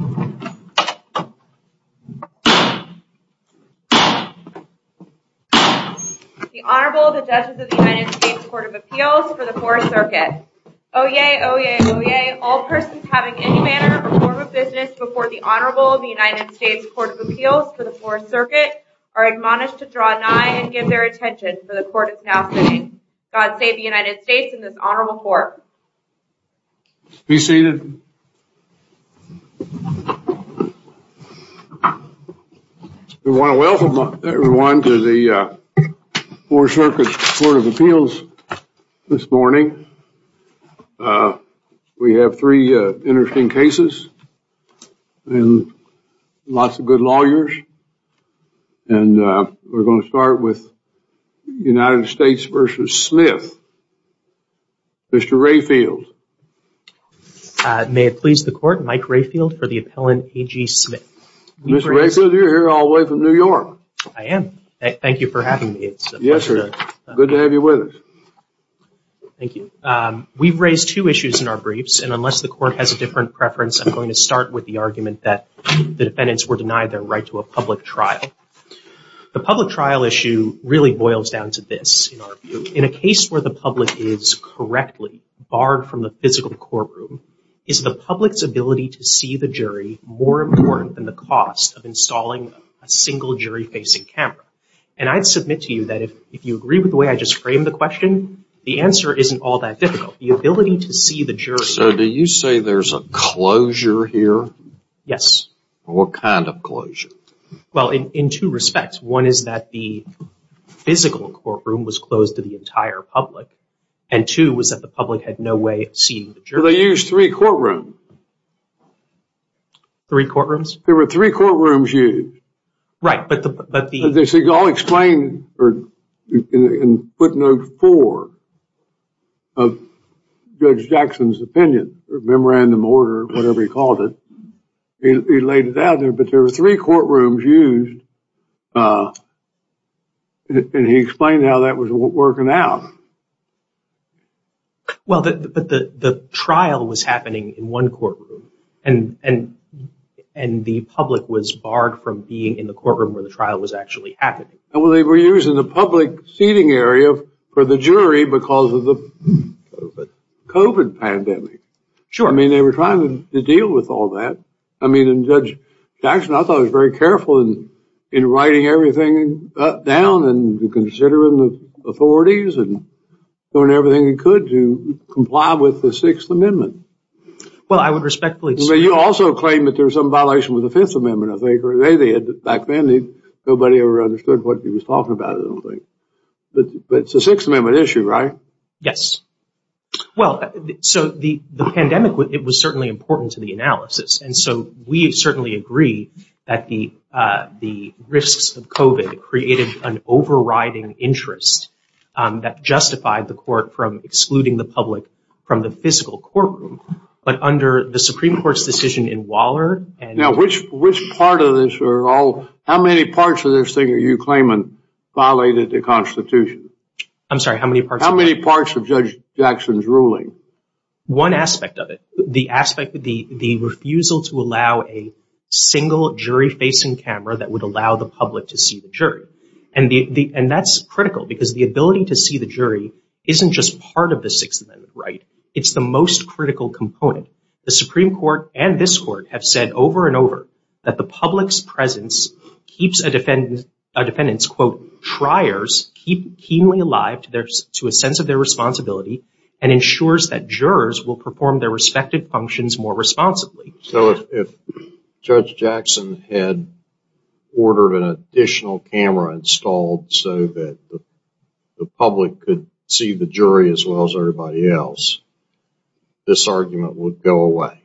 The Honorable, the Judges of the United States Court of Appeals for the Fourth Circuit. Oyez, oyez, oyez, all persons having any manner or form of business before the Honorable of the United States Court of Appeals for the Fourth Circuit are admonished to draw nigh and give their attention for the Court is now sitting. God save the United States and this Honorable Court. Be seated. I want to welcome everyone to the Fourth Circuit's Court of Appeals this morning. We have three interesting cases and lots of good lawyers. And we're going to start with United States v. Smith. Mr. Rayfield. May it please the Court, Mike Rayfield for the appellant, Aghee Smith. Mr. Rayfield, you're here all the way from New York. I am. Thank you for having me. Yes, sir. Good to have you with us. Thank you. We've raised two issues in our briefs, and unless the Court has a different preference, I'm going to start with the argument that the defendants were denied their right to a public trial. The public trial issue really boils down to this. In a case where the public is correctly barred from the physical courtroom, is the public's ability to see the jury more important than the cost of installing a single jury-facing camera? And I'd submit to you that if you agree with the way I just framed the question, the answer isn't all that difficult. So do you say there's a closure here? Yes. What kind of closure? Well, in two respects. One is that the physical courtroom was closed to the entire public, and two was that the public had no way of seeing the jury. They used three courtrooms. Three courtrooms? There were three courtrooms used. Right, but the- They all explained in footnote four of Judge Jackson's opinion, or memorandum order, whatever he called it. He laid it out there, but there were three courtrooms used, and he explained how that was working out. Well, but the trial was happening in one courtroom, and the public was barred from being in the courtroom where the trial was actually happening. Well, they were using the public seating area for the jury because of the COVID pandemic. Sure. I mean, they were trying to deal with all that. I mean, and Judge Jackson, I thought, was very careful in writing everything down and considering the authorities and doing everything he could to comply with the Sixth Amendment. Well, I would respectfully- But you also claim that there was some violation with the Fifth Amendment, I think. Back then, nobody ever understood what he was talking about, I don't think. But it's a Sixth Amendment issue, right? Yes. Well, so the pandemic, it was certainly important to the analysis, and so we certainly agree that the risks of COVID created an overriding interest that justified the court from excluding the public from the physical courtroom. But under the Supreme Court's decision in Waller- Now, which part of this are all- How many parts of this thing are you claiming violated the Constitution? I'm sorry, how many parts- How many parts of Judge Jackson's ruling? One aspect of it, the aspect of the refusal to allow a single jury-facing camera that would allow the public to see the jury. And that's critical, because the ability to see the jury isn't just part of the Sixth Amendment, right? It's the most critical component. The Supreme Court and this Court have said over and over that the public's presence keeps a defendant's, quote, "'triers' keep keenly alive to a sense of their responsibility and ensures that jurors will perform their respective functions more responsibly.'" So if Judge Jackson had ordered an additional camera installed so that the public could see the jury as well as everybody else, this argument would go away?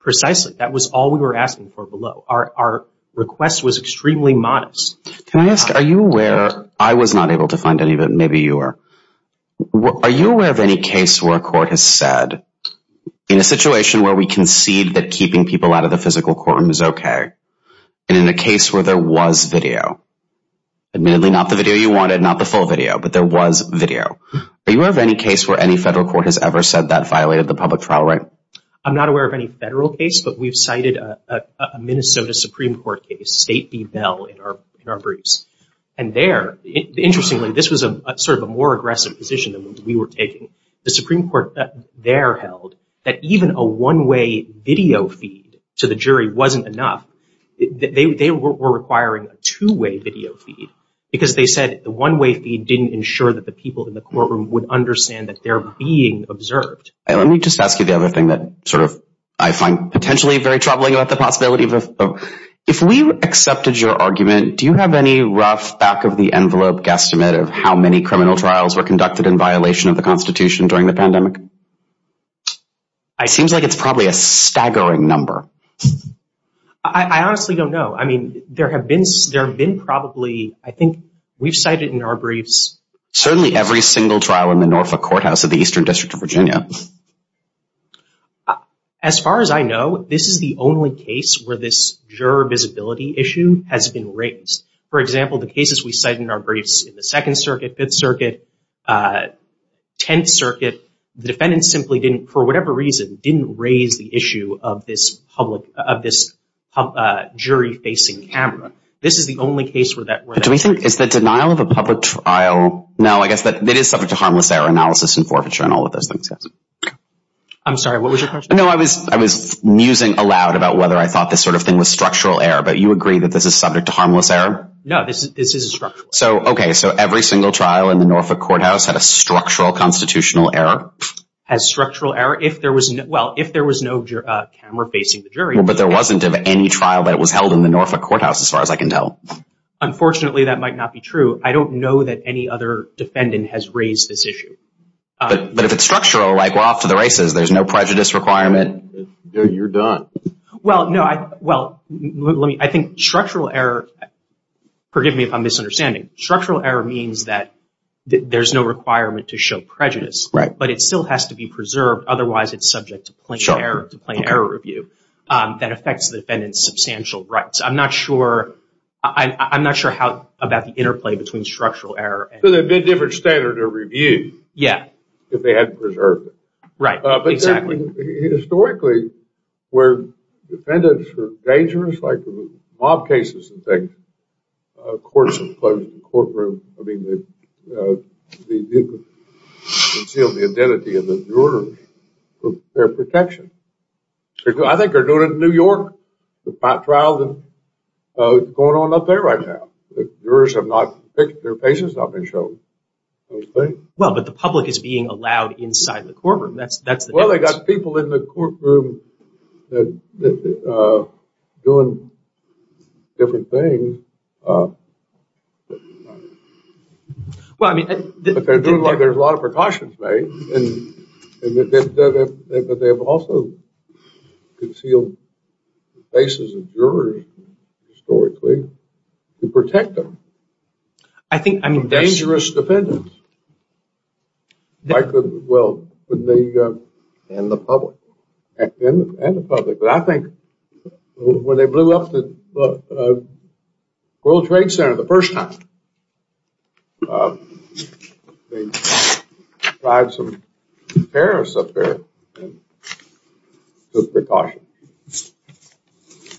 Precisely. That was all we were asking for below. Our request was extremely modest. Can I ask, are you aware- I was not able to find any, but maybe you were. Are you aware of any case where a court has said, in a situation where we concede that keeping people out of the physical courtroom is okay, and in a case where there was video, admittedly not the video you wanted, not the full video, but there was video, are you aware of any case where any federal court has ever said that violated the public trial right? I'm not aware of any federal case, but we've cited a Minnesota Supreme Court case, State v. Bell, in our briefs. And there, interestingly, this was sort of a more aggressive position than we were taking. The Supreme Court there held that even a one-way video feed to the jury wasn't enough. They were requiring a two-way video feed, because they said the one-way feed didn't ensure that the people in the courtroom would understand that they're being observed. Let me just ask you the other thing that I find potentially very troubling about the possibility of- if we accepted your argument, do you have any rough back-of-the-envelope guesstimate of how many criminal trials were conducted in violation of the Constitution during the pandemic? It seems like it's probably a staggering number. I honestly don't know. I mean, there have been probably, I think we've cited in our briefs- Certainly every single trial in the Norfolk Courthouse of the Eastern District of Virginia. As far as I know, this is the only case where this juror visibility issue has been raised. For example, the cases we cite in our briefs in the Second Circuit, Fifth Circuit, Tenth Circuit, the defendants simply didn't, for whatever reason, didn't raise the issue of this public- of this jury-facing camera. This is the only case where that- Do we think it's the denial of a public trial? No, I guess that it is subject to harmless error analysis and forfeiture and all of those things. I'm sorry, what was your question? No, I was musing aloud about whether I thought this sort of thing was structural error, but you agree that this is subject to harmless error? No, this is structural. Okay, so every single trial in the Norfolk Courthouse had a structural constitutional error? Has structural error- well, if there was no camera facing the jury- But there wasn't of any trial that was held in the Norfolk Courthouse, as far as I can tell. Unfortunately, that might not be true. I don't know that any other defendant has raised this issue. But if it's structural, like we're off to the races, there's no prejudice requirement. You're done. Well, I think structural error- forgive me if I'm misunderstanding. Structural error means that there's no requirement to show prejudice, but it still has to be preserved, otherwise it's subject to plain error review that affects the defendant's substantial rights. I'm not sure about the interplay between structural error and- So there'd be a different standard of review if they hadn't preserved it. Right, exactly. Historically, where defendants are dangerous, like the mob cases and things, courts have closed the courtroom. I mean, they've concealed the identity of the jurors for their protection. I think they're doing it in New York. There's five trials going on up there right now. Jurors have not- their faces have not been shown. Well, but the public is being allowed inside the courtroom. Well, they've got people in the courtroom doing different things, but they're doing what there's a lot of precautions made. But they have also concealed the faces of jurors, historically, to protect them. Dangerous defendants, like the- And the public. And the public. But I think when they blew up the World Trade Center the first time, they tried some terrorists up there and took precautions.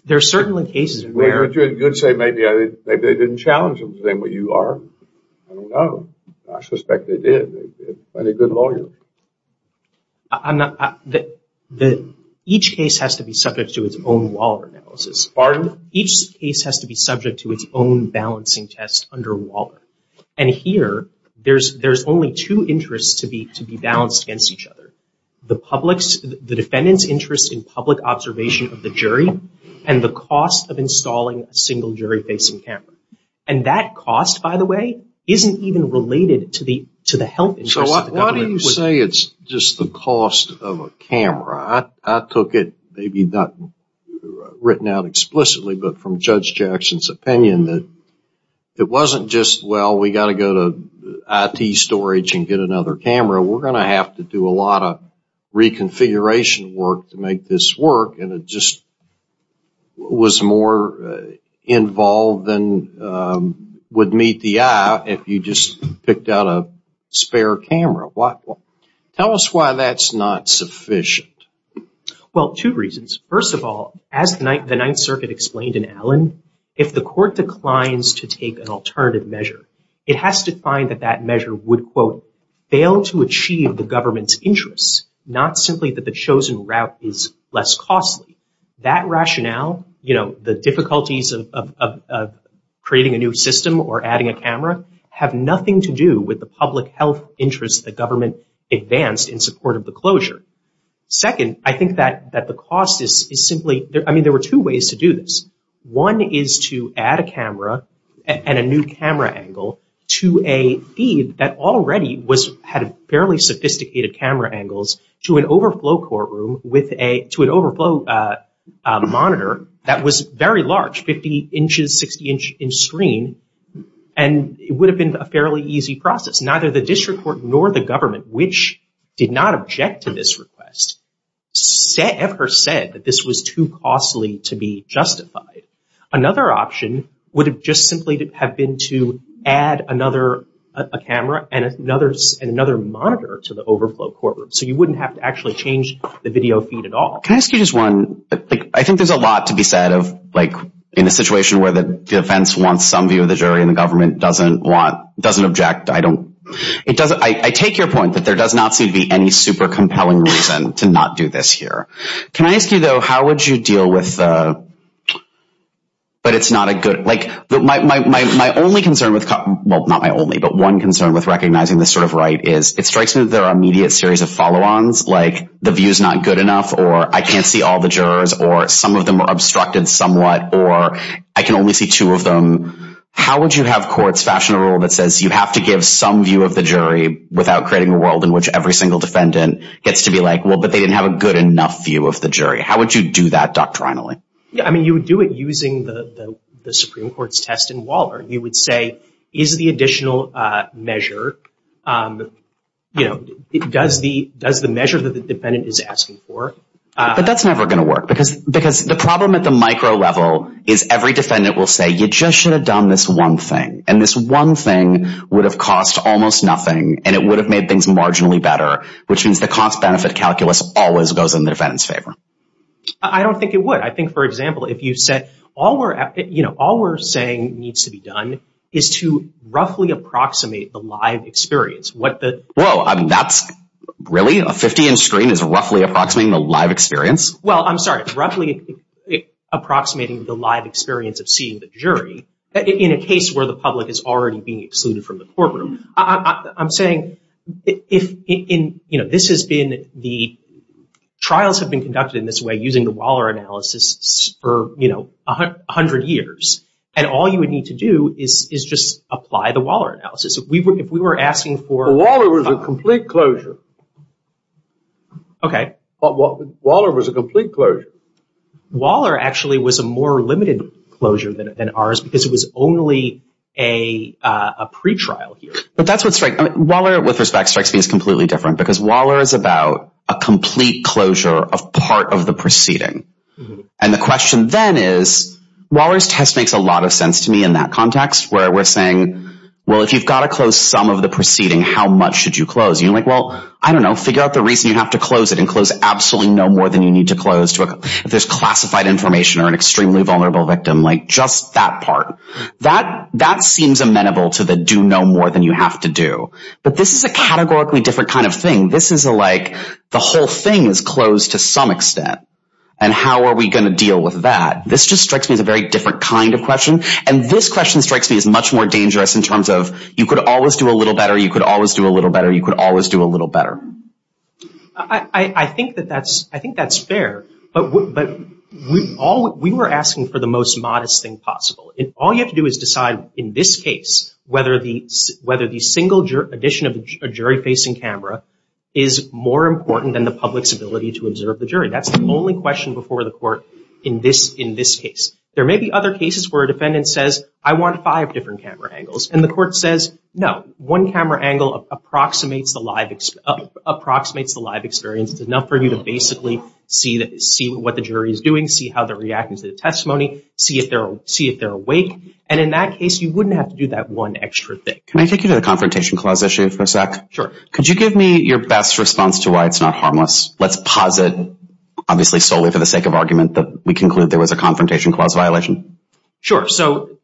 There are certainly cases where- But you would say maybe they didn't challenge them, saying, well, you are. I don't know. I suspect they did. They're a good lawyer. Each case has to be subject to its own Waller analysis. Pardon? Each case has to be subject to its own balancing test under Waller. And here, there's only two interests to be balanced against each other, the defendant's interest in public observation of the jury and the cost of installing a single jury-facing camera. And that cost, by the way, isn't even related to the health interest. So why do you say it's just the cost of a camera? I took it, maybe not written out explicitly, but from Judge Jackson's opinion that it wasn't just, well, we've got to go to IT storage and get another camera. We're going to have to do a lot of reconfiguration work to make this work, and it just was more involved than would meet the eye if you just picked out a spare camera. Tell us why that's not sufficient. Well, two reasons. First of all, as the Ninth Circuit explained in Allen, if the court declines to take an alternative measure, it has to find that that measure would, quote, fail to achieve the government's interests, not simply that the chosen route is less costly. That rationale, the difficulties of creating a new system or adding a camera, have nothing to do with the public health interest that government advanced in support of the closure. Second, I think that the cost is simply, I mean, there were two ways to do this. One is to add a camera and a new camera angle to a feed that already had fairly sophisticated camera angles to an overflow courtroom, to an overflow monitor that was very large, 50 inches, 60-inch screen, and it would have been a fairly easy process. Neither the district court nor the government, which did not object to this request, ever said that this was too costly to be justified. Another option would have just simply have been to add another camera and another monitor to the overflow courtroom, so you wouldn't have to actually change the video feed at all. Can I ask you just one? I think there's a lot to be said of, like, in a situation where the defense wants some view of the jury and the government doesn't want, doesn't object. I take your point that there does not seem to be any super compelling reason to not do this here. Can I ask you, though, how would you deal with the, but it's not a good, like, my only concern with, well, not my only, but one concern with recognizing this sort of right is it strikes me that there are immediate series of follow-ons, like the view is not good enough or I can't see all the jurors or some of them are obstructed somewhat or I can only see two of them. How would you have courts fashion a rule that says you have to give some view of the jury without creating a world in which every single defendant gets to be like, well, but they didn't have a good enough view of the jury? How would you do that doctrinally? Yeah, I mean, you would do it using the Supreme Court's test in Waller. You would say, is the additional measure, you know, does the measure that the defendant is asking for. But that's never going to work because the problem at the micro level is every defendant will say, you just should have done this one thing, and this one thing would have cost almost nothing and it would have made things marginally better, which means the cost-benefit calculus always goes in the defendant's favor. I don't think it would. I think, for example, if you said, you know, all we're saying needs to be done is to roughly approximate the live experience. Whoa, that's really? A 50-inch screen is roughly approximating the live experience? Well, I'm sorry. It's roughly approximating the live experience of seeing the jury in a case where the public is already being excluded from the courtroom. I'm saying if in, you know, this has been the trials have been conducted in this way using the Waller analysis for, you know, 100 years, and all you would need to do is just apply the Waller analysis. If we were asking for- Waller was a complete closure. Okay. Waller was a complete closure. Waller actually was a more limited closure than ours because it was only a pretrial here. But that's what's right. Waller, with respect, strikes me as completely different because Waller is about a complete closure of part of the proceeding. And the question then is, Waller's test makes a lot of sense to me in that context where we're saying, well, if you've got to close some of the proceeding, how much should you close? You're like, well, I don't know. Figure out the reason you have to close it and close absolutely no more than you need to close. If there's classified information or an extremely vulnerable victim, like just that part, that seems amenable to the do no more than you have to do. But this is a categorically different kind of thing. This is like the whole thing is closed to some extent, and how are we going to deal with that? This just strikes me as a very different kind of question, and this question strikes me as much more dangerous in terms of you could always do a little better, you could always do a little better, you could always do a little better. I think that that's fair. We were asking for the most modest thing possible. All you have to do is decide in this case whether the single addition of a jury-facing camera is more important than the public's ability to observe the jury. That's the only question before the court in this case. There may be other cases where a defendant says, I want five different camera angles, and the court says, no. One camera angle approximates the live experience. It's enough for you to basically see what the jury is doing, see how they're reacting to the testimony, see if they're awake. And in that case, you wouldn't have to do that one extra thing. Can I take you to the Confrontation Clause issue for a sec? Sure. Could you give me your best response to why it's not harmless? Let's posit, obviously solely for the sake of argument, that we conclude there was a Confrontation Clause violation. Sure. So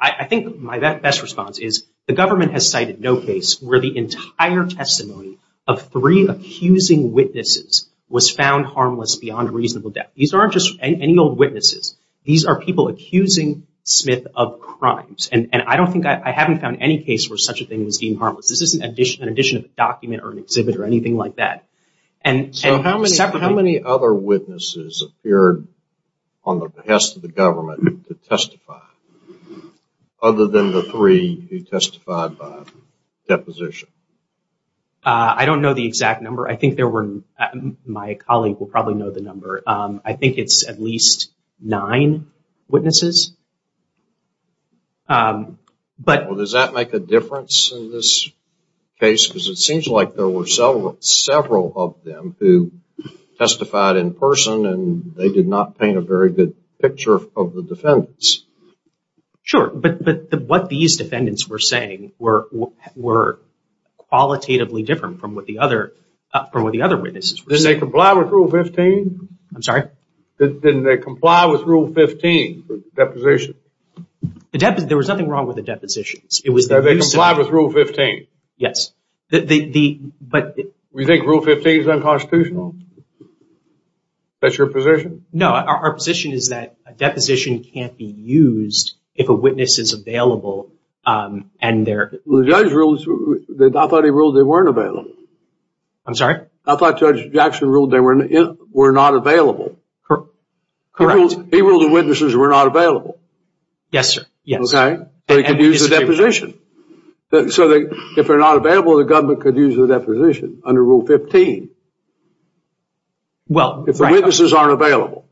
I think my best response is the government has cited no case where the entire testimony of three accusing witnesses was found harmless beyond reasonable doubt. These aren't just any old witnesses. These are people accusing Smith of crimes. And I haven't found any case where such a thing was deemed harmless. This isn't an addition of a document or an exhibit or anything like that. So how many other witnesses appeared on the behest of the government to testify other than the three who testified by deposition? I don't know the exact number. My colleague will probably know the number. I think it's at least nine witnesses. Does that make a difference in this case? Because it seems like there were several of them who testified in person and they did not paint a very good picture of the defendants. Sure, but what these defendants were saying were qualitatively different from what the other witnesses were saying. Didn't they comply with Rule 15? I'm sorry? Didn't they comply with Rule 15 for deposition? There was nothing wrong with the depositions. Did they comply with Rule 15? Yes. Do you think Rule 15 is unconstitutional? That's your position? No, our position is that a deposition can't be used if a witness is available. The judge ruled, I thought he ruled they weren't available. I'm sorry? I thought Judge Jackson ruled they were not available. Correct. He ruled the witnesses were not available. Yes, sir. They could use the deposition. So if they're not available, the government could use the deposition under Rule 15. Well, right. If the witnesses aren't available.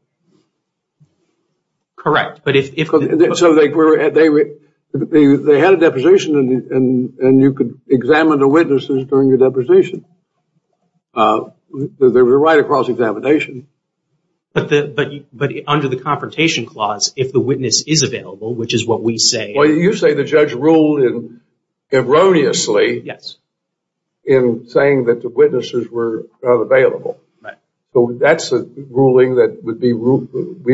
Correct. So they had a deposition and you could examine the witnesses during the deposition. They were right across examination. But under the Confrontation Clause, if the witness is available, which is what we say. Well, you say the judge ruled erroneously. Yes. In saying that the witnesses were not available. Right. So that's a ruling that we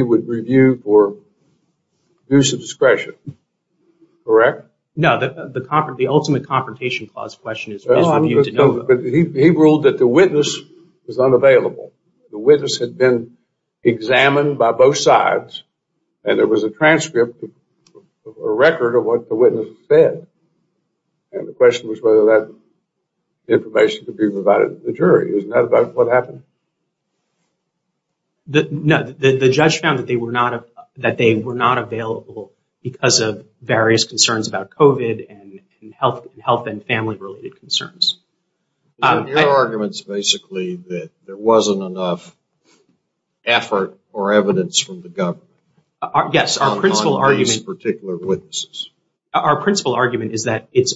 would review for use of discretion. Correct? No, the ultimate Confrontation Clause question is for you to know. He ruled that the witness was unavailable. The witness had been examined by both sides. And there was a transcript, a record of what the witness said. And the question was whether that information could be provided to the jury. Isn't that about what happened? No, the judge found that they were not available because of various concerns about COVID and health and family related concerns. Your argument is basically that there wasn't enough effort or evidence from the government. Yes. Our principle argument is that it's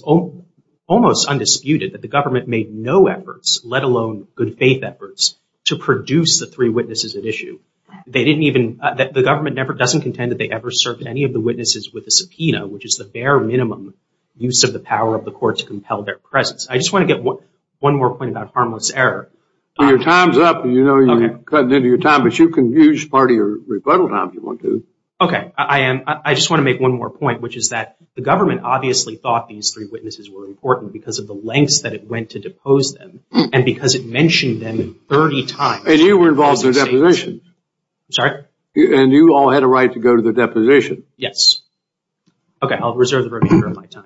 almost undisputed that the government made no efforts, let alone good faith efforts, to produce the three witnesses at issue. The government doesn't contend that they ever served any of the witnesses with a subpoena, which is the bare minimum use of the power of the court to compel their presence. I just want to get one more point about harmless error. Your time's up. You know you're cutting into your time, but you can use part of your rebuttal time if you want to. Okay. I just want to make one more point, which is that the government obviously thought these three witnesses were important because of the lengths that it went to depose them and because it mentioned them 30 times. And you were involved in the deposition. I'm sorry? And you all had a right to go to the deposition. Yes. Okay. I'll reserve the remainder of my time.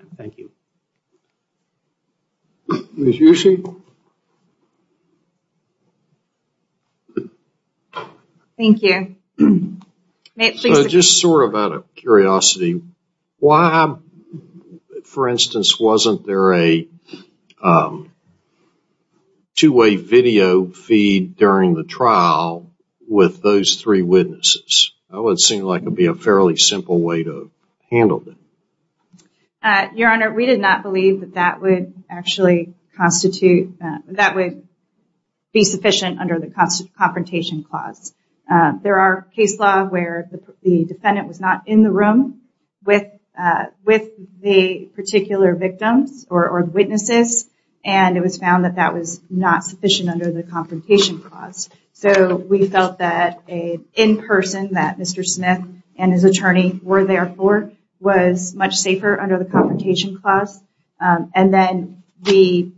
Ms. Yushi? Thank you. Just sort of out of curiosity, why, for instance, wasn't there a two-way video feed during the trial with those three witnesses? That would seem like it would be a fairly simple way to handle it. Your Honor, we did not believe that that would actually constitute, that would be sufficient under the confrontation clause. There are case law where the defendant was not in the room with the particular victims or witnesses, and it was found that that was not sufficient under the confrontation clause. So we felt that an in-person, that Mr. Smith and his attorney were there for, was much safer under the confrontation clause. And then we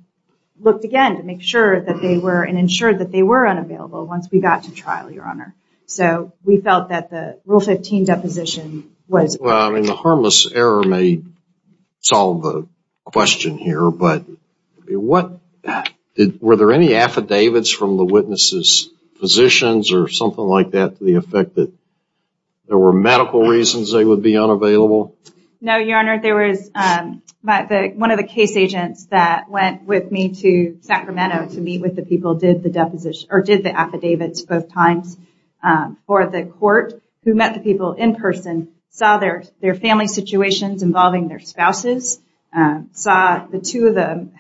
looked again to make sure that they were, and ensured that they were unavailable once we got to trial, Your Honor. So we felt that the Rule 15 deposition was... Well, I mean, the harmless error may solve the question here, but were there any affidavits from the witnesses' physicians or something like that to the effect that there were medical reasons they would be unavailable? No, Your Honor. One of the case agents that went with me to Sacramento to meet with the people did the affidavits both times for the court, who met the people in person, saw their family situations involving their spouses, saw the two of them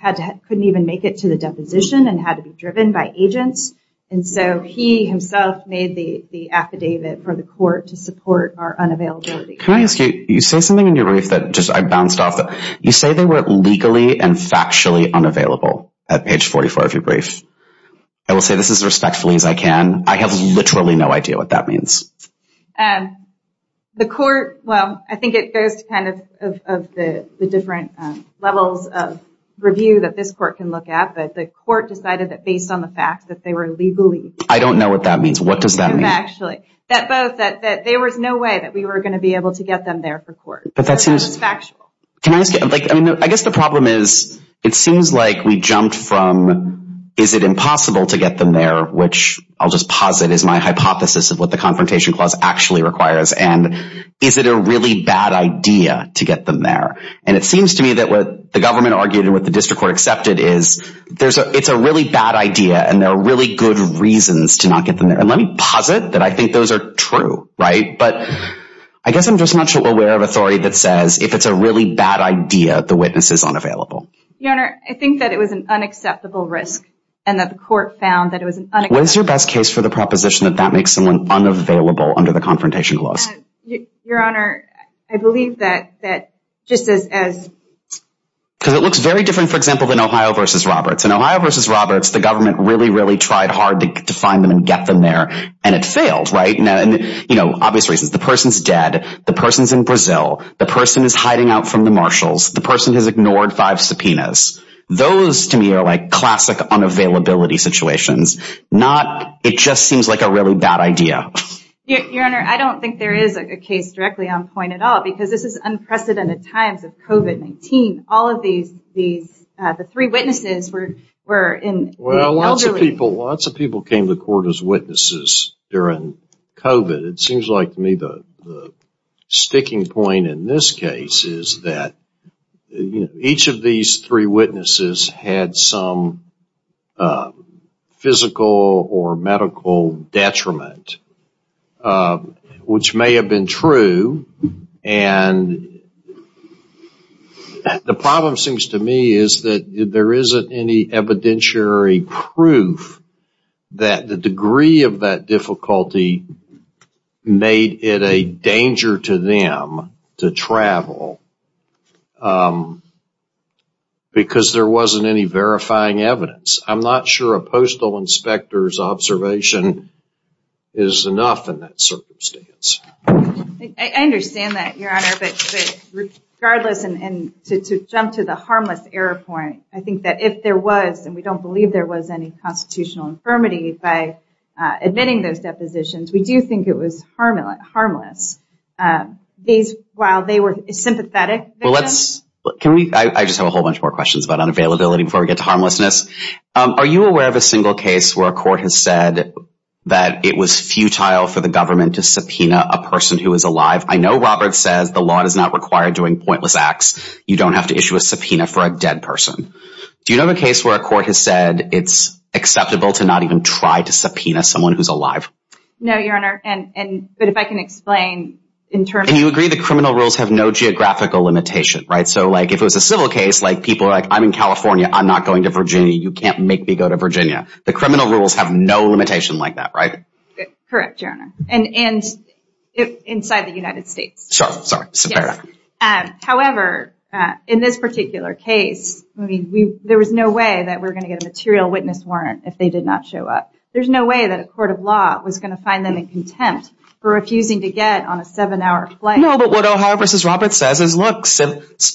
couldn't even make it to the deposition and had to be driven by agents. And so he himself made the affidavit for the court to support our unavailability. Can I ask you, you say something in your brief that just I bounced off. You say they were legally and factually unavailable at page 44 of your brief. I will say this as respectfully as I can. I have literally no idea what that means. The court, well, I think it goes to kind of the different levels of review that this court can look at, but the court decided that based on the fact that they were legally... I don't know what that means. What does that mean? Factually, that both, that there was no way that we were going to be able to get them there for court. But that seems... That was factual. Can I ask you, I guess the problem is it seems like we jumped from is it impossible to get them there, which I'll just posit is my hypothesis of what the Confrontation Clause actually requires, and is it a really bad idea to get them there? And it seems to me that what the government argued and what the district court accepted is it's a really bad idea and there are really good reasons to not get them there. And let me posit that I think those are true, right? But I guess I'm just not so aware of authority that says if it's a really bad idea, the witness is unavailable. Your Honor, I think that it was an unacceptable risk and that the court found that it was an unacceptable... What is your best case for the proposition that that makes someone unavailable under the Confrontation Clause? Your Honor, I believe that just as... Because it looks very different, for example, than Ohio v. Roberts. In Ohio v. Roberts, the government really, really tried hard to find them and get them there, and it failed, right? And, you know, obvious reasons. The person's dead, the person's in Brazil, the person is hiding out from the marshals, the person has ignored five subpoenas. Those, to me, are like classic unavailability situations. It just seems like a really bad idea. Your Honor, I don't think there is a case directly on point at all, because this is unprecedented times of COVID-19. All of these... The three witnesses were in the elderly... Well, lots of people came to court as witnesses during COVID. It seems like to me the sticking point in this case is that each of these three witnesses had some physical or medical detriment, which may have been true. And the problem seems to me is that there isn't any evidentiary proof that the degree of that difficulty made it a danger to them to travel, because there wasn't any verifying evidence. I'm not sure a postal inspector's observation is enough in that circumstance. I understand that, Your Honor, but regardless, and to jump to the harmless error point, I think that if there was, and we don't believe there was any constitutional infirmity by admitting those depositions, we do think it was harmless. While they were sympathetic... I just have a whole bunch more questions about unavailability before we get to harmlessness. Are you aware of a single case where a court has said that it was futile for the government to subpoena a person who was alive? I know Robert says the law does not require doing pointless acts. You don't have to issue a subpoena for a dead person. Do you know of a case where a court has said it's acceptable to not even try to subpoena someone who's alive? No, Your Honor, but if I can explain... And you agree the criminal rules have no geographical limitation, right? So, like, if it was a civil case, like, people are like, I'm in California. I'm not going to Virginia. You can't make me go to Virginia. The criminal rules have no limitation like that, right? Correct, Your Honor, and inside the United States. However, in this particular case, there was no way that we were going to get a material witness warrant if they did not show up. There's no way that a court of law was going to find them in contempt for refusing to get on a seven-hour flight. No, but what Ohio v. Roberts says is, look,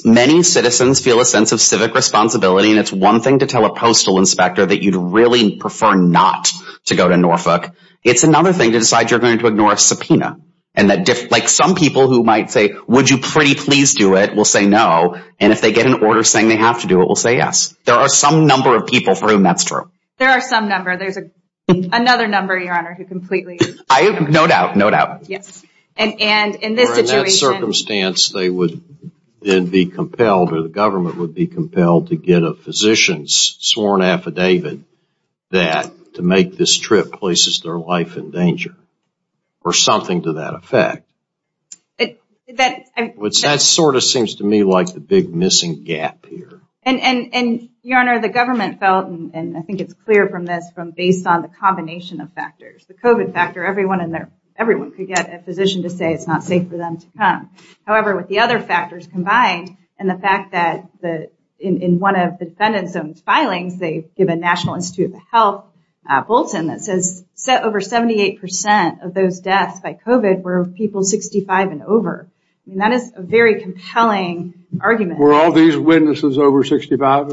many citizens feel a sense of civic responsibility, and it's one thing to tell a postal inspector that you'd really prefer not to go to Norfolk. It's another thing to decide you're going to ignore a subpoena. Like, some people who might say, would you pretty please do it, will say no, and if they get an order saying they have to do it, will say yes. There are some number of people for whom that's true. There are some number. There's another number, Your Honor, who completely... No doubt, no doubt. Yes, and in this situation... Or in that circumstance, they would then be compelled or the government would be compelled to get a physician's sworn affidavit that to make this trip places their life in danger or something to that effect. That sort of seems to me like the big missing gap here. And, Your Honor, the government felt, and I think it's clear from this, from based on the combination of factors, the COVID factor, everyone could get a physician to say it's not safe for them to come. However, with the other factors combined and the fact that in one of the defendant's own filings, they give a National Institute of Health bulletin that says over 78% of those deaths by COVID were people 65 and over. I mean, that is a very compelling argument. Were all these witnesses over 65?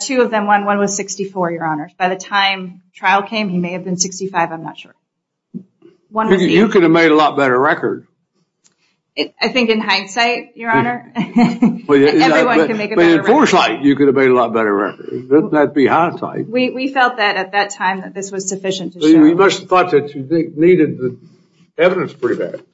Two of them. One was 64, Your Honor. By the time trial came, he may have been 65. I'm not sure. You could have made a lot better record. I think in hindsight, Your Honor, everyone can make a better record. In foresight, you could have made a lot better record. Wouldn't that be hindsight? We felt that at that time that this was sufficient to show. You must have thought that you needed the evidence pretty bad.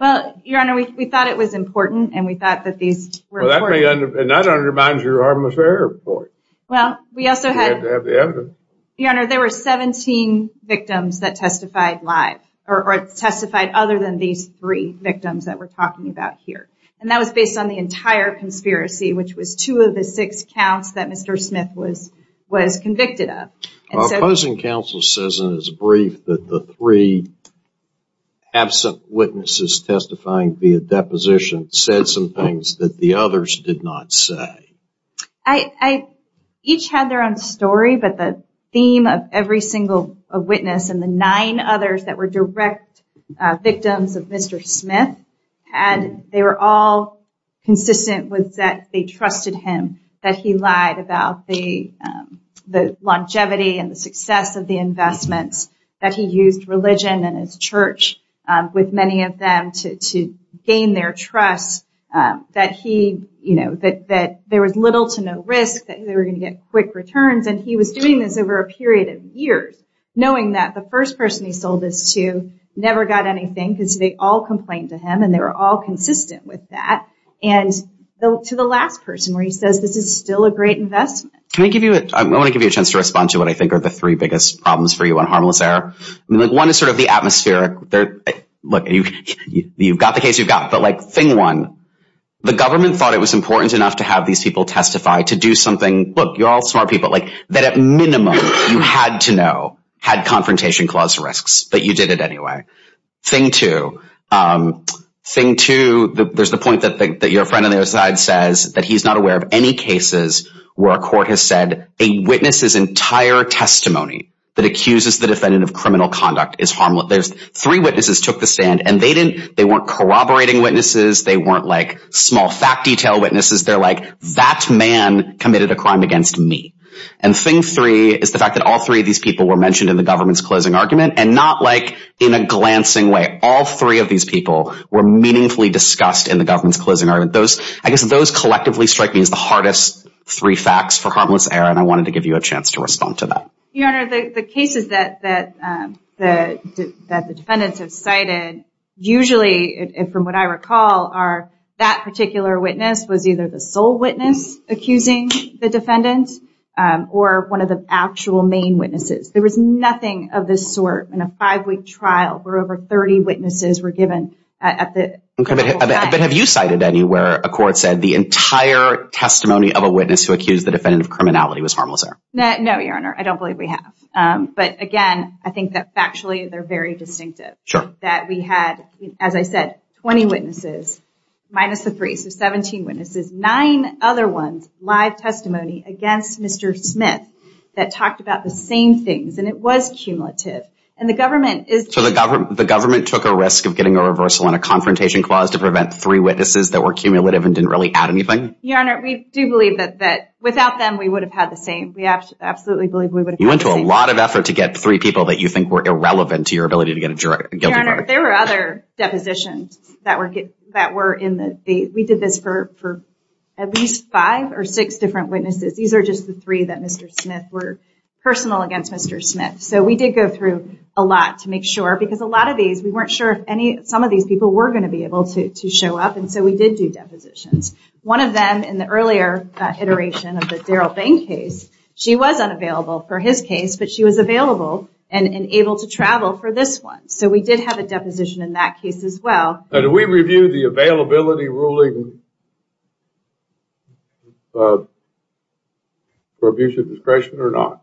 Well, Your Honor, we thought it was important and we thought that these were important. And that undermines your harmless error report. Well, we also had to have the evidence. Your Honor, there were 17 victims that testified live, or testified other than these three victims that we're talking about here. And that was based on the entire conspiracy, which was two of the six counts that Mr. Smith was convicted of. Our opposing counsel says in his brief that the three absent witnesses testifying via deposition said some things that the others did not say. I each had their own story, but the theme of every single witness and the nine others that were direct victims of Mr. Smith, and they were all consistent with that they trusted him, that he lied about the longevity and the success of the investments, that he used religion and his church with many of them to gain their trust, that there was little to no risk, that they were going to get quick returns. And he was doing this over a period of years, knowing that the first person he sold this to never got anything because they all complained to him and they were all consistent with that, and to the last person where he says this is still a great investment. I want to give you a chance to respond to what I think are the three biggest problems for you on harmless error. One is sort of the atmospheric. You've got the case you've got, but thing one, the government thought it was important enough to have these people testify, to do something, look, you're all smart people, that at minimum you had to know, had confrontation clause risks, but you did it anyway. Thing two, there's the point that your friend on the other side says that he's not aware of any cases where a court has said a witness's entire testimony that accuses the defendant of criminal conduct is harmless. Three witnesses took the stand and they weren't corroborating witnesses, they weren't like small fact detail witnesses, they're like that man committed a crime against me. And thing three is the fact that all three of these people were mentioned in the government's closing argument, and not like in a glancing way. All three of these people were meaningfully discussed in the government's closing argument. I guess those collectively strike me as the hardest three facts for harmless error, and I wanted to give you a chance to respond to that. Your Honor, the cases that the defendants have cited, usually from what I recall are that particular witness was either the sole witness accusing the defendant or one of the actual main witnesses. There was nothing of this sort in a five-week trial where over 30 witnesses were given. But have you cited anywhere a court said the entire testimony of a witness who accused the defendant of criminality was harmless error? No, Your Honor, I don't believe we have. But again, I think that factually they're very distinctive. That we had, as I said, 20 witnesses minus the three, so 17 witnesses, nine other ones, live testimony against Mr. Smith that talked about the same things, and it was cumulative. And the government is... So the government took a risk of getting a reversal and a confrontation clause to prevent three witnesses that were cumulative and didn't really add anything? Your Honor, we do believe that without them we would have had the same. We absolutely believe we would have had the same. You went to a lot of effort to get three people that you think were irrelevant to your ability to get a guilty verdict. Your Honor, there were other depositions that were in the... We did this for at least five or six different witnesses. These are just the three that Mr. Smith... were personal against Mr. Smith. So we did go through a lot to make sure because a lot of these, we weren't sure if some of these people were going to be able to show up, and so we did do depositions. One of them in the earlier iteration of the Daryl Bain case, she was unavailable for his case, but she was available and able to travel for this one. So we did have a deposition in that case as well. Now, do we review the availability ruling for abuse of discretion or not?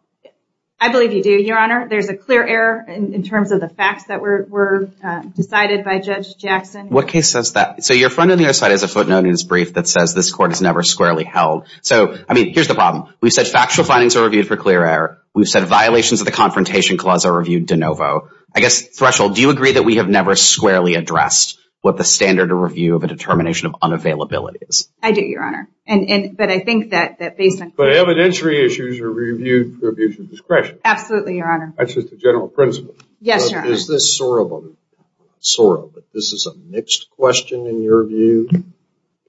I believe you do, Your Honor. There's a clear error in terms of the facts that were decided by Judge Jackson. What case says that? So your friend on the other side has a footnote in his brief that says this court has never squarely held. So, I mean, here's the problem. We've said factual findings are reviewed for clear error. We've said violations of the Confrontation Clause are reviewed de novo. I guess, Threshold, do you agree that we have never squarely addressed what the standard of review of a determination of unavailability is? I do, Your Honor. But I think that based on… But evidentiary issues are reviewed for abuse of discretion. Absolutely, Your Honor. That's just a general principle. Yes, Your Honor. Is this a mixed question in your view?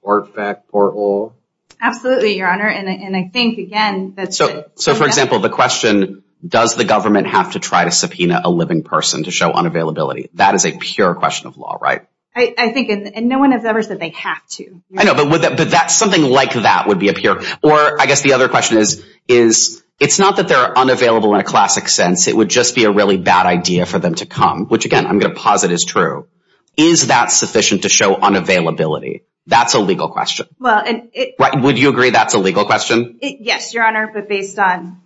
Part fact, part law? Absolutely, Your Honor. And I think, again… So, for example, the question, a living person to show unavailability. That is a pure question of law, right? I think, and no one has ever said they have to. I know, but something like that would be a pure… Or I guess the other question is, it's not that they're unavailable in a classic sense. It would just be a really bad idea for them to come, which, again, I'm going to posit is true. Is that sufficient to show unavailability? That's a legal question. Would you agree that's a legal question? Yes, Your Honor. But based on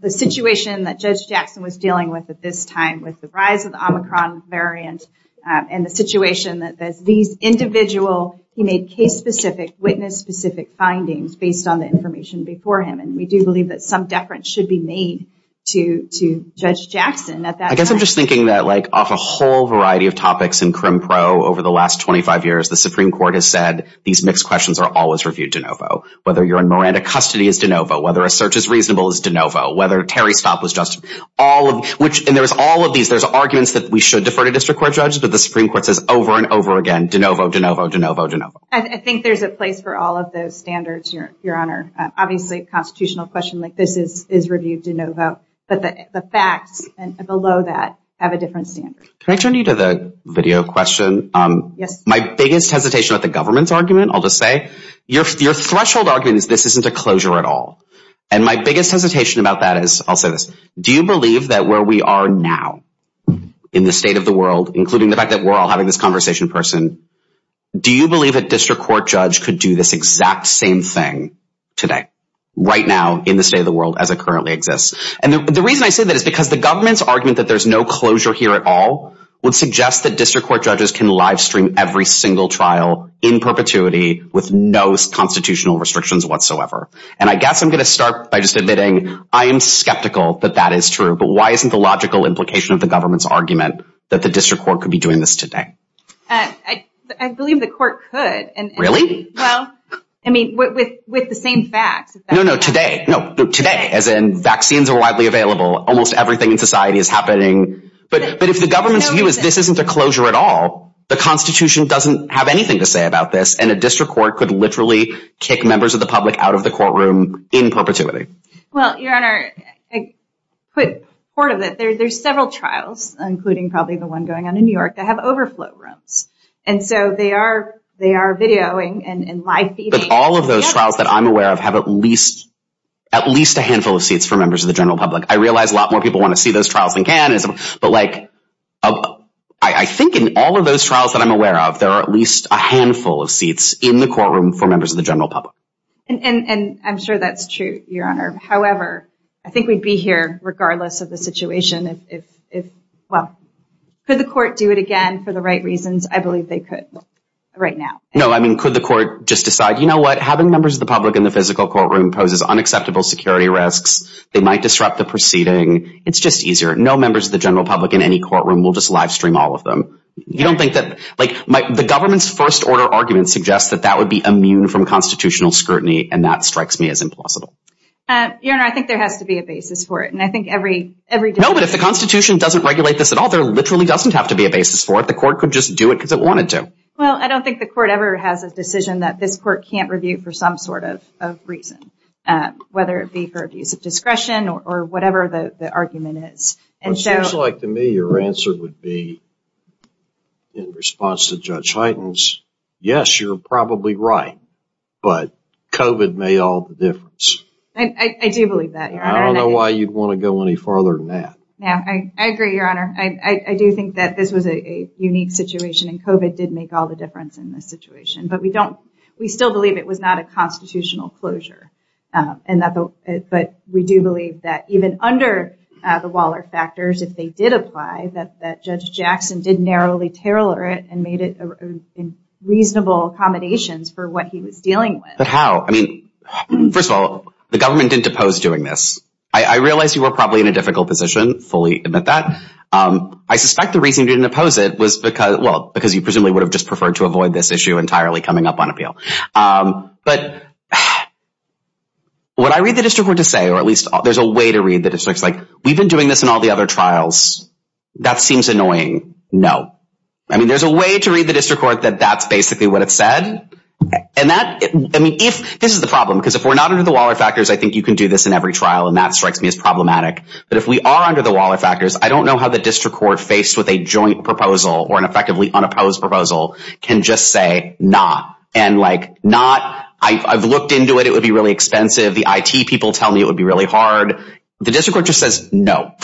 the situation that Judge Jackson was dealing with at this time, with the rise of the Omicron variant, and the situation that these individual, he made case-specific, witness-specific findings based on the information before him. And we do believe that some deference should be made to Judge Jackson at that time. I guess I'm just thinking that, like, off a whole variety of topics in CrimPro over the last 25 years, the Supreme Court has said these mixed questions are always reviewed de novo. Whether you're in Miranda custody is de novo. Whether a search is reasonable is de novo. Whether Terry Stott was just… And there's all of these. There's arguments that we should defer to district court judges, but the Supreme Court says over and over again, de novo, de novo, de novo, de novo. I think there's a place for all of those standards, Your Honor. Obviously, a constitutional question like this is reviewed de novo. But the facts below that have a different standard. Can I turn you to the video question? My biggest hesitation with the government's argument, I'll just say, your threshold argument is this isn't a closure at all. And my biggest hesitation about that is, I'll say this, do you believe that where we are now in the state of the world, including the fact that we're all having this conversation in person, do you believe a district court judge could do this exact same thing today, right now in the state of the world as it currently exists? And the reason I say that is because the government's argument that there's no closure here at all would suggest that district court judges can livestream every single trial in perpetuity with no constitutional restrictions whatsoever. And I guess I'm going to start by just admitting I am skeptical that that is true. But why isn't the logical implication of the government's argument that the district court could be doing this today? I believe the court could. Really? Well, I mean, with the same facts. No, no, today. No, today, as in vaccines are widely available. Almost everything in society is happening. But if the government's view is this isn't a closure at all, the Constitution doesn't have anything to say about this, and a district court could literally kick members of the public out of the courtroom in perpetuity. Well, Your Honor, a quick part of it. There's several trials, including probably the one going on in New York, that have overflow rooms. And so they are videoing and live-feeding. But all of those trials that I'm aware of have at least a handful of seats for members of the general public. I realize a lot more people want to see those trials than can, but, like, I think in all of those trials that I'm aware of, there are at least a handful of seats in the courtroom for members of the general public. And I'm sure that's true, Your Honor. However, I think we'd be here regardless of the situation if, well, could the court do it again for the right reasons? I believe they could right now. No, I mean, could the court just decide, you know what, having members of the public in the physical courtroom poses unacceptable security risks. They might disrupt the proceeding. It's just easier. No members of the general public in any courtroom will just live-stream all of them. You don't think that, like, the government's first-order argument suggests that that would be immune from constitutional scrutiny, and that strikes me as implausible. Your Honor, I think there has to be a basis for it. And I think every decision— No, but if the Constitution doesn't regulate this at all, there literally doesn't have to be a basis for it. The court could just do it because it wanted to. Well, I don't think the court ever has a decision that this court can't review for some sort of reason, whether it be for abuse of discretion or whatever the argument is. It seems like to me your answer would be, in response to Judge Hyten's, yes, you're probably right, but COVID made all the difference. I do believe that, Your Honor. I don't know why you'd want to go any farther than that. I agree, Your Honor. I do think that this was a unique situation, and COVID did make all the difference in this situation. But we still believe it was not a constitutional closure. But we do believe that even under the Waller factors, if they did apply, that Judge Jackson did narrowly tailor it and made it reasonable accommodations for what he was dealing with. But how? I mean, first of all, the government didn't oppose doing this. I realize you were probably in a difficult position, fully admit that. I suspect the reason you didn't oppose it was because— But what I read the district court to say, or at least there's a way to read the district. It's like, we've been doing this in all the other trials. That seems annoying. No. I mean, there's a way to read the district court that that's basically what it said. And that—I mean, if—this is the problem, because if we're not under the Waller factors, I think you can do this in every trial, and that strikes me as problematic. But if we are under the Waller factors, I don't know how the district court, when faced with a joint proposal or an effectively unopposed proposal, can just say, not. And like, not—I've looked into it. It would be really expensive. The IT people tell me it would be really hard. The district court just says, no.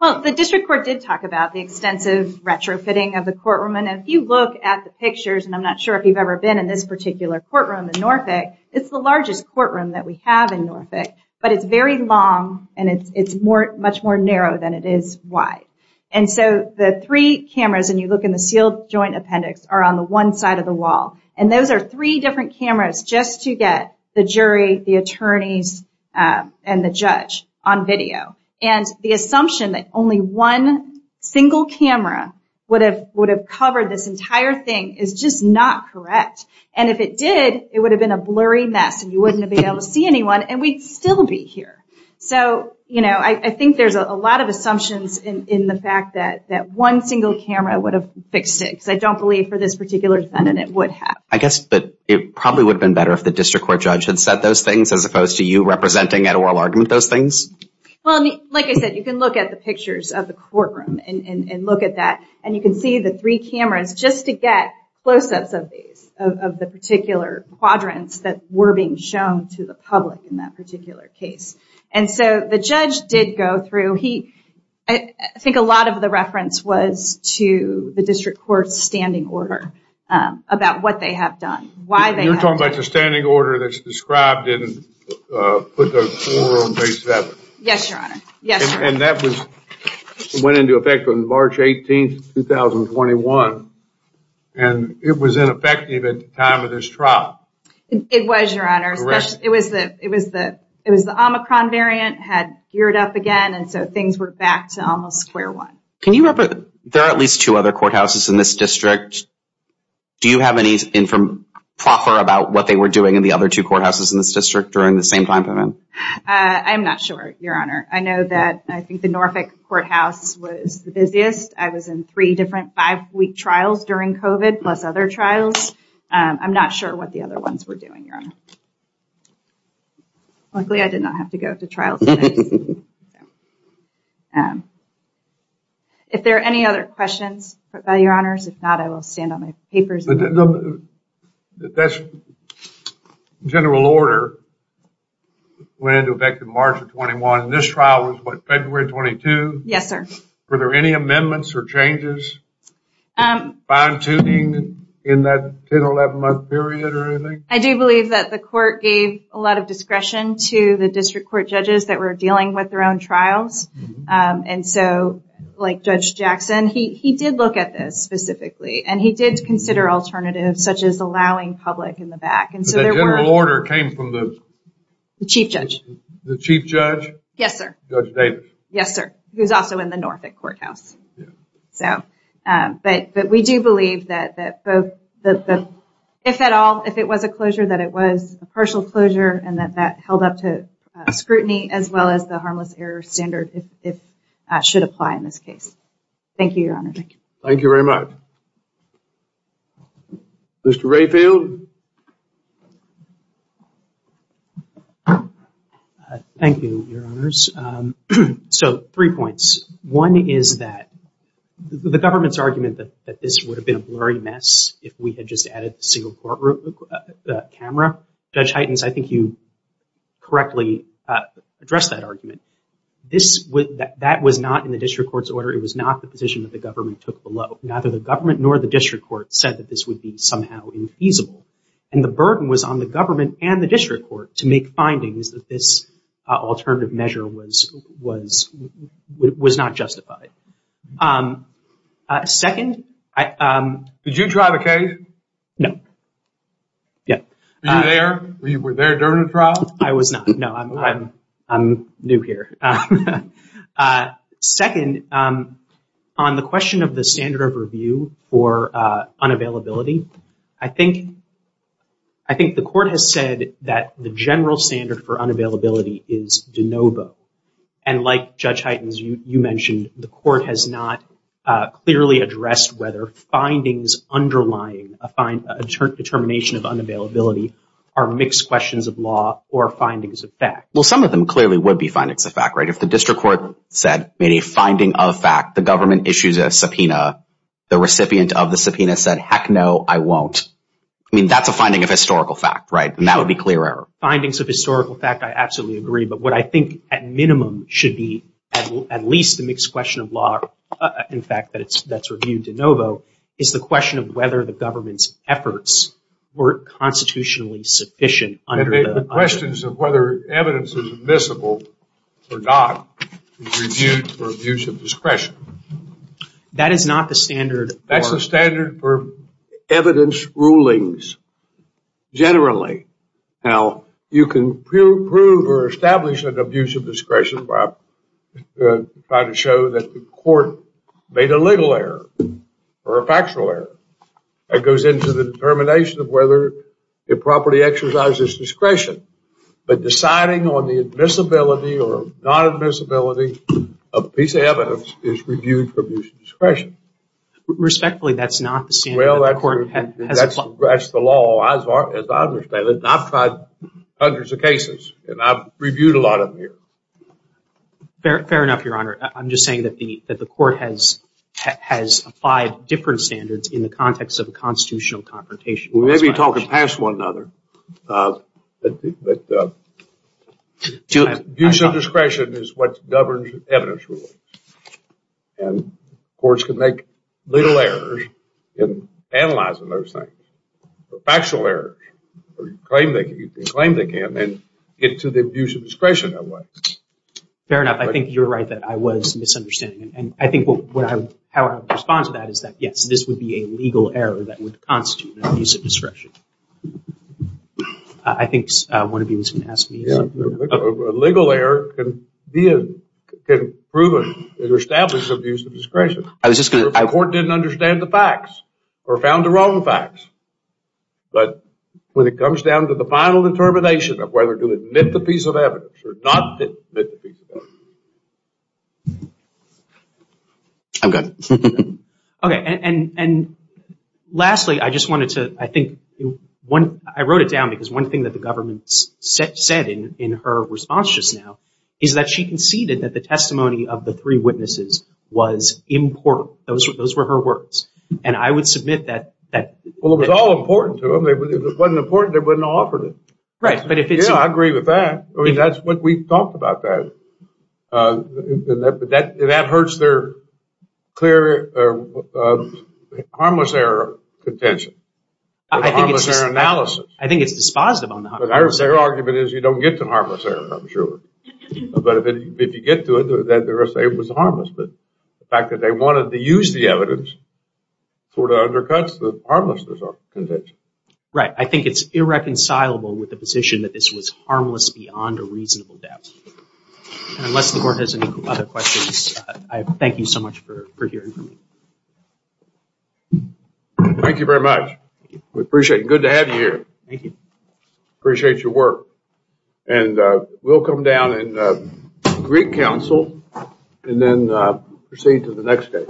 Well, the district court did talk about the extensive retrofitting of the courtroom. And if you look at the pictures, and I'm not sure if you've ever been in this particular courtroom in Norfolk, it's the largest courtroom that we have in Norfolk. But it's very long, and it's much more narrow than it is wide. And so the three cameras, and you look in the sealed joint appendix, are on the one side of the wall. And those are three different cameras just to get the jury, the attorneys, and the judge on video. And the assumption that only one single camera would have covered this entire thing is just not correct. And if it did, it would have been a blurry mess, and you wouldn't have been able to see anyone, and we'd still be here. So, you know, I think there's a lot of assumptions in the fact that one single camera would have fixed it, because I don't believe for this particular defendant it would have. I guess it probably would have been better if the district court judge had said those things as opposed to you representing at oral argument those things. Well, like I said, you can look at the pictures of the courtroom and look at that, and you can see the three cameras just to get close-ups of these, of the particular quadrants that were being shown to the public in that particular case. And so the judge did go through. He, I think a lot of the reference was to the district court's standing order about what they have done, why they have done it. You're talking about the standing order that's described and put those four on base seven. Yes, Your Honor. Yes, Your Honor. And that went into effect on March 18th, 2021, and it was ineffective at the time of this trial. It was, Your Honor. Correct. It was the Omicron variant had geared up again, and so things were back to almost square one. Can you remember, there are at least two other courthouses in this district. Do you have any proper about what they were doing in the other two courthouses in this district during the same time period? I'm not sure, Your Honor. I know that I think the Norfolk courthouse was the busiest. I was in three different five-week trials during COVID plus other trials. I'm not sure what the other ones were doing, Your Honor. Luckily, I did not have to go to trial. If there are any other questions, Your Honors, if not, I will stand on my papers. General order went into effect in March of 21, and this trial was what, February 22? Yes, sir. Were there any amendments or changes, fine-tuning in that 10 or 11-month period or anything? I do believe that the court gave a lot of discretion to the district court judges that were dealing with their own trials. Like Judge Jackson, he did look at this specifically, and he did consider alternatives such as allowing public in the back. The general order came from the? The chief judge. The chief judge? Yes, sir. Judge Davis? Yes, sir. He was also in the Norfolk courthouse. We do believe that if at all, if it was a closure, that it was a partial closure and that that held up to scrutiny as well as the harmless error standard should apply in this case. Thank you, Your Honor. Thank you. Thank you very much. Mr. Rayfield? Thank you, Your Honors. So, three points. One is that the government's argument that this would have been a blurry mess if we had just added the single courtroom camera. Judge Heitens, I think you correctly addressed that argument. That was not in the district court's order. It was not the position that the government took below. Neither the government nor the district court said that this would be somehow infeasible. And the burden was on the government and the district court to make findings that this alternative measure was not justified. Second? Did you drive a case? No. Yeah. Were you there during the trial? I was not. No, I'm new here. Second, on the question of the standard of review for unavailability, I think the court has said that the general standard for unavailability is de novo. And like Judge Heitens, you mentioned the court has not clearly addressed whether findings underlying a determination of unavailability are mixed questions of law or findings of fact. Well, some of them clearly would be findings of fact, right? If the district court said, made a finding of fact, the government issues a subpoena, the recipient of the subpoena said, heck no, I won't. I mean, that's a finding of historical fact, right? And that would be clear error. Findings of historical fact, I absolutely agree. But what I think at minimum should be at least a mixed question of law, in fact, that's reviewed de novo, is the question of whether the government's efforts were constitutionally sufficient. The questions of whether evidence is admissible or not is reviewed for abuse of discretion. That is not the standard. That's the standard for evidence rulings generally. Now, you can prove or establish an abuse of discretion by trying to show that the court made a legal error or a factual error. That goes into the determination of whether the property exercises discretion. But deciding on the admissibility or non-admissibility of a piece of evidence is reviewed for abuse of discretion. Respectfully, that's not the standard that the court has applied. Well, that's the law, as I understand it. And I've tried hundreds of cases. And I've reviewed a lot of them here. Fair enough, Your Honor. I'm just saying that the court has applied different standards in the context of a constitutional confrontation. We may be talking past one another, but abuse of discretion is what governs evidence rulings. And courts can make little errors in analyzing those things, factual errors, or you can claim they can, and get to the abuse of discretion that way. Fair enough. I think you're right that I was misunderstanding. And I think how I would respond to that is that, yes, this would be a legal error that would constitute an abuse of discretion. I think one of you was going to ask me. A legal error can prove or establish abuse of discretion. The court didn't understand the facts or found the wrong facts. But when it comes down to the final determination of whether to admit the piece of evidence or not admit the piece of evidence. I'm good. Okay. And lastly, I just wanted to, I think, I wrote it down because one thing that the government said in her response just now is that she conceded that the testimony of the three witnesses was important. Those were her words. And I would submit that. Well, it was all important to them. If it wasn't important, they wouldn't have offered it. Right, but if it's. Yeah, I agree with that. I mean, that's what we've talked about that. That hurts their clear harmless error contention. I think it's dispositive on the harmless error. Their argument is you don't get to harmless error, I'm sure. But if you get to it, then it was harmless. But the fact that they wanted to use the evidence sort of undercuts the harmless error contention. Right. I think it's irreconcilable with the position that this was harmless beyond a reasonable depth. And unless the court has any other questions, I thank you so much for hearing from me. Thank you very much. We appreciate it. Good to have you here. Thank you. Appreciate your work. And we'll come down and greet counsel and then proceed to the next case.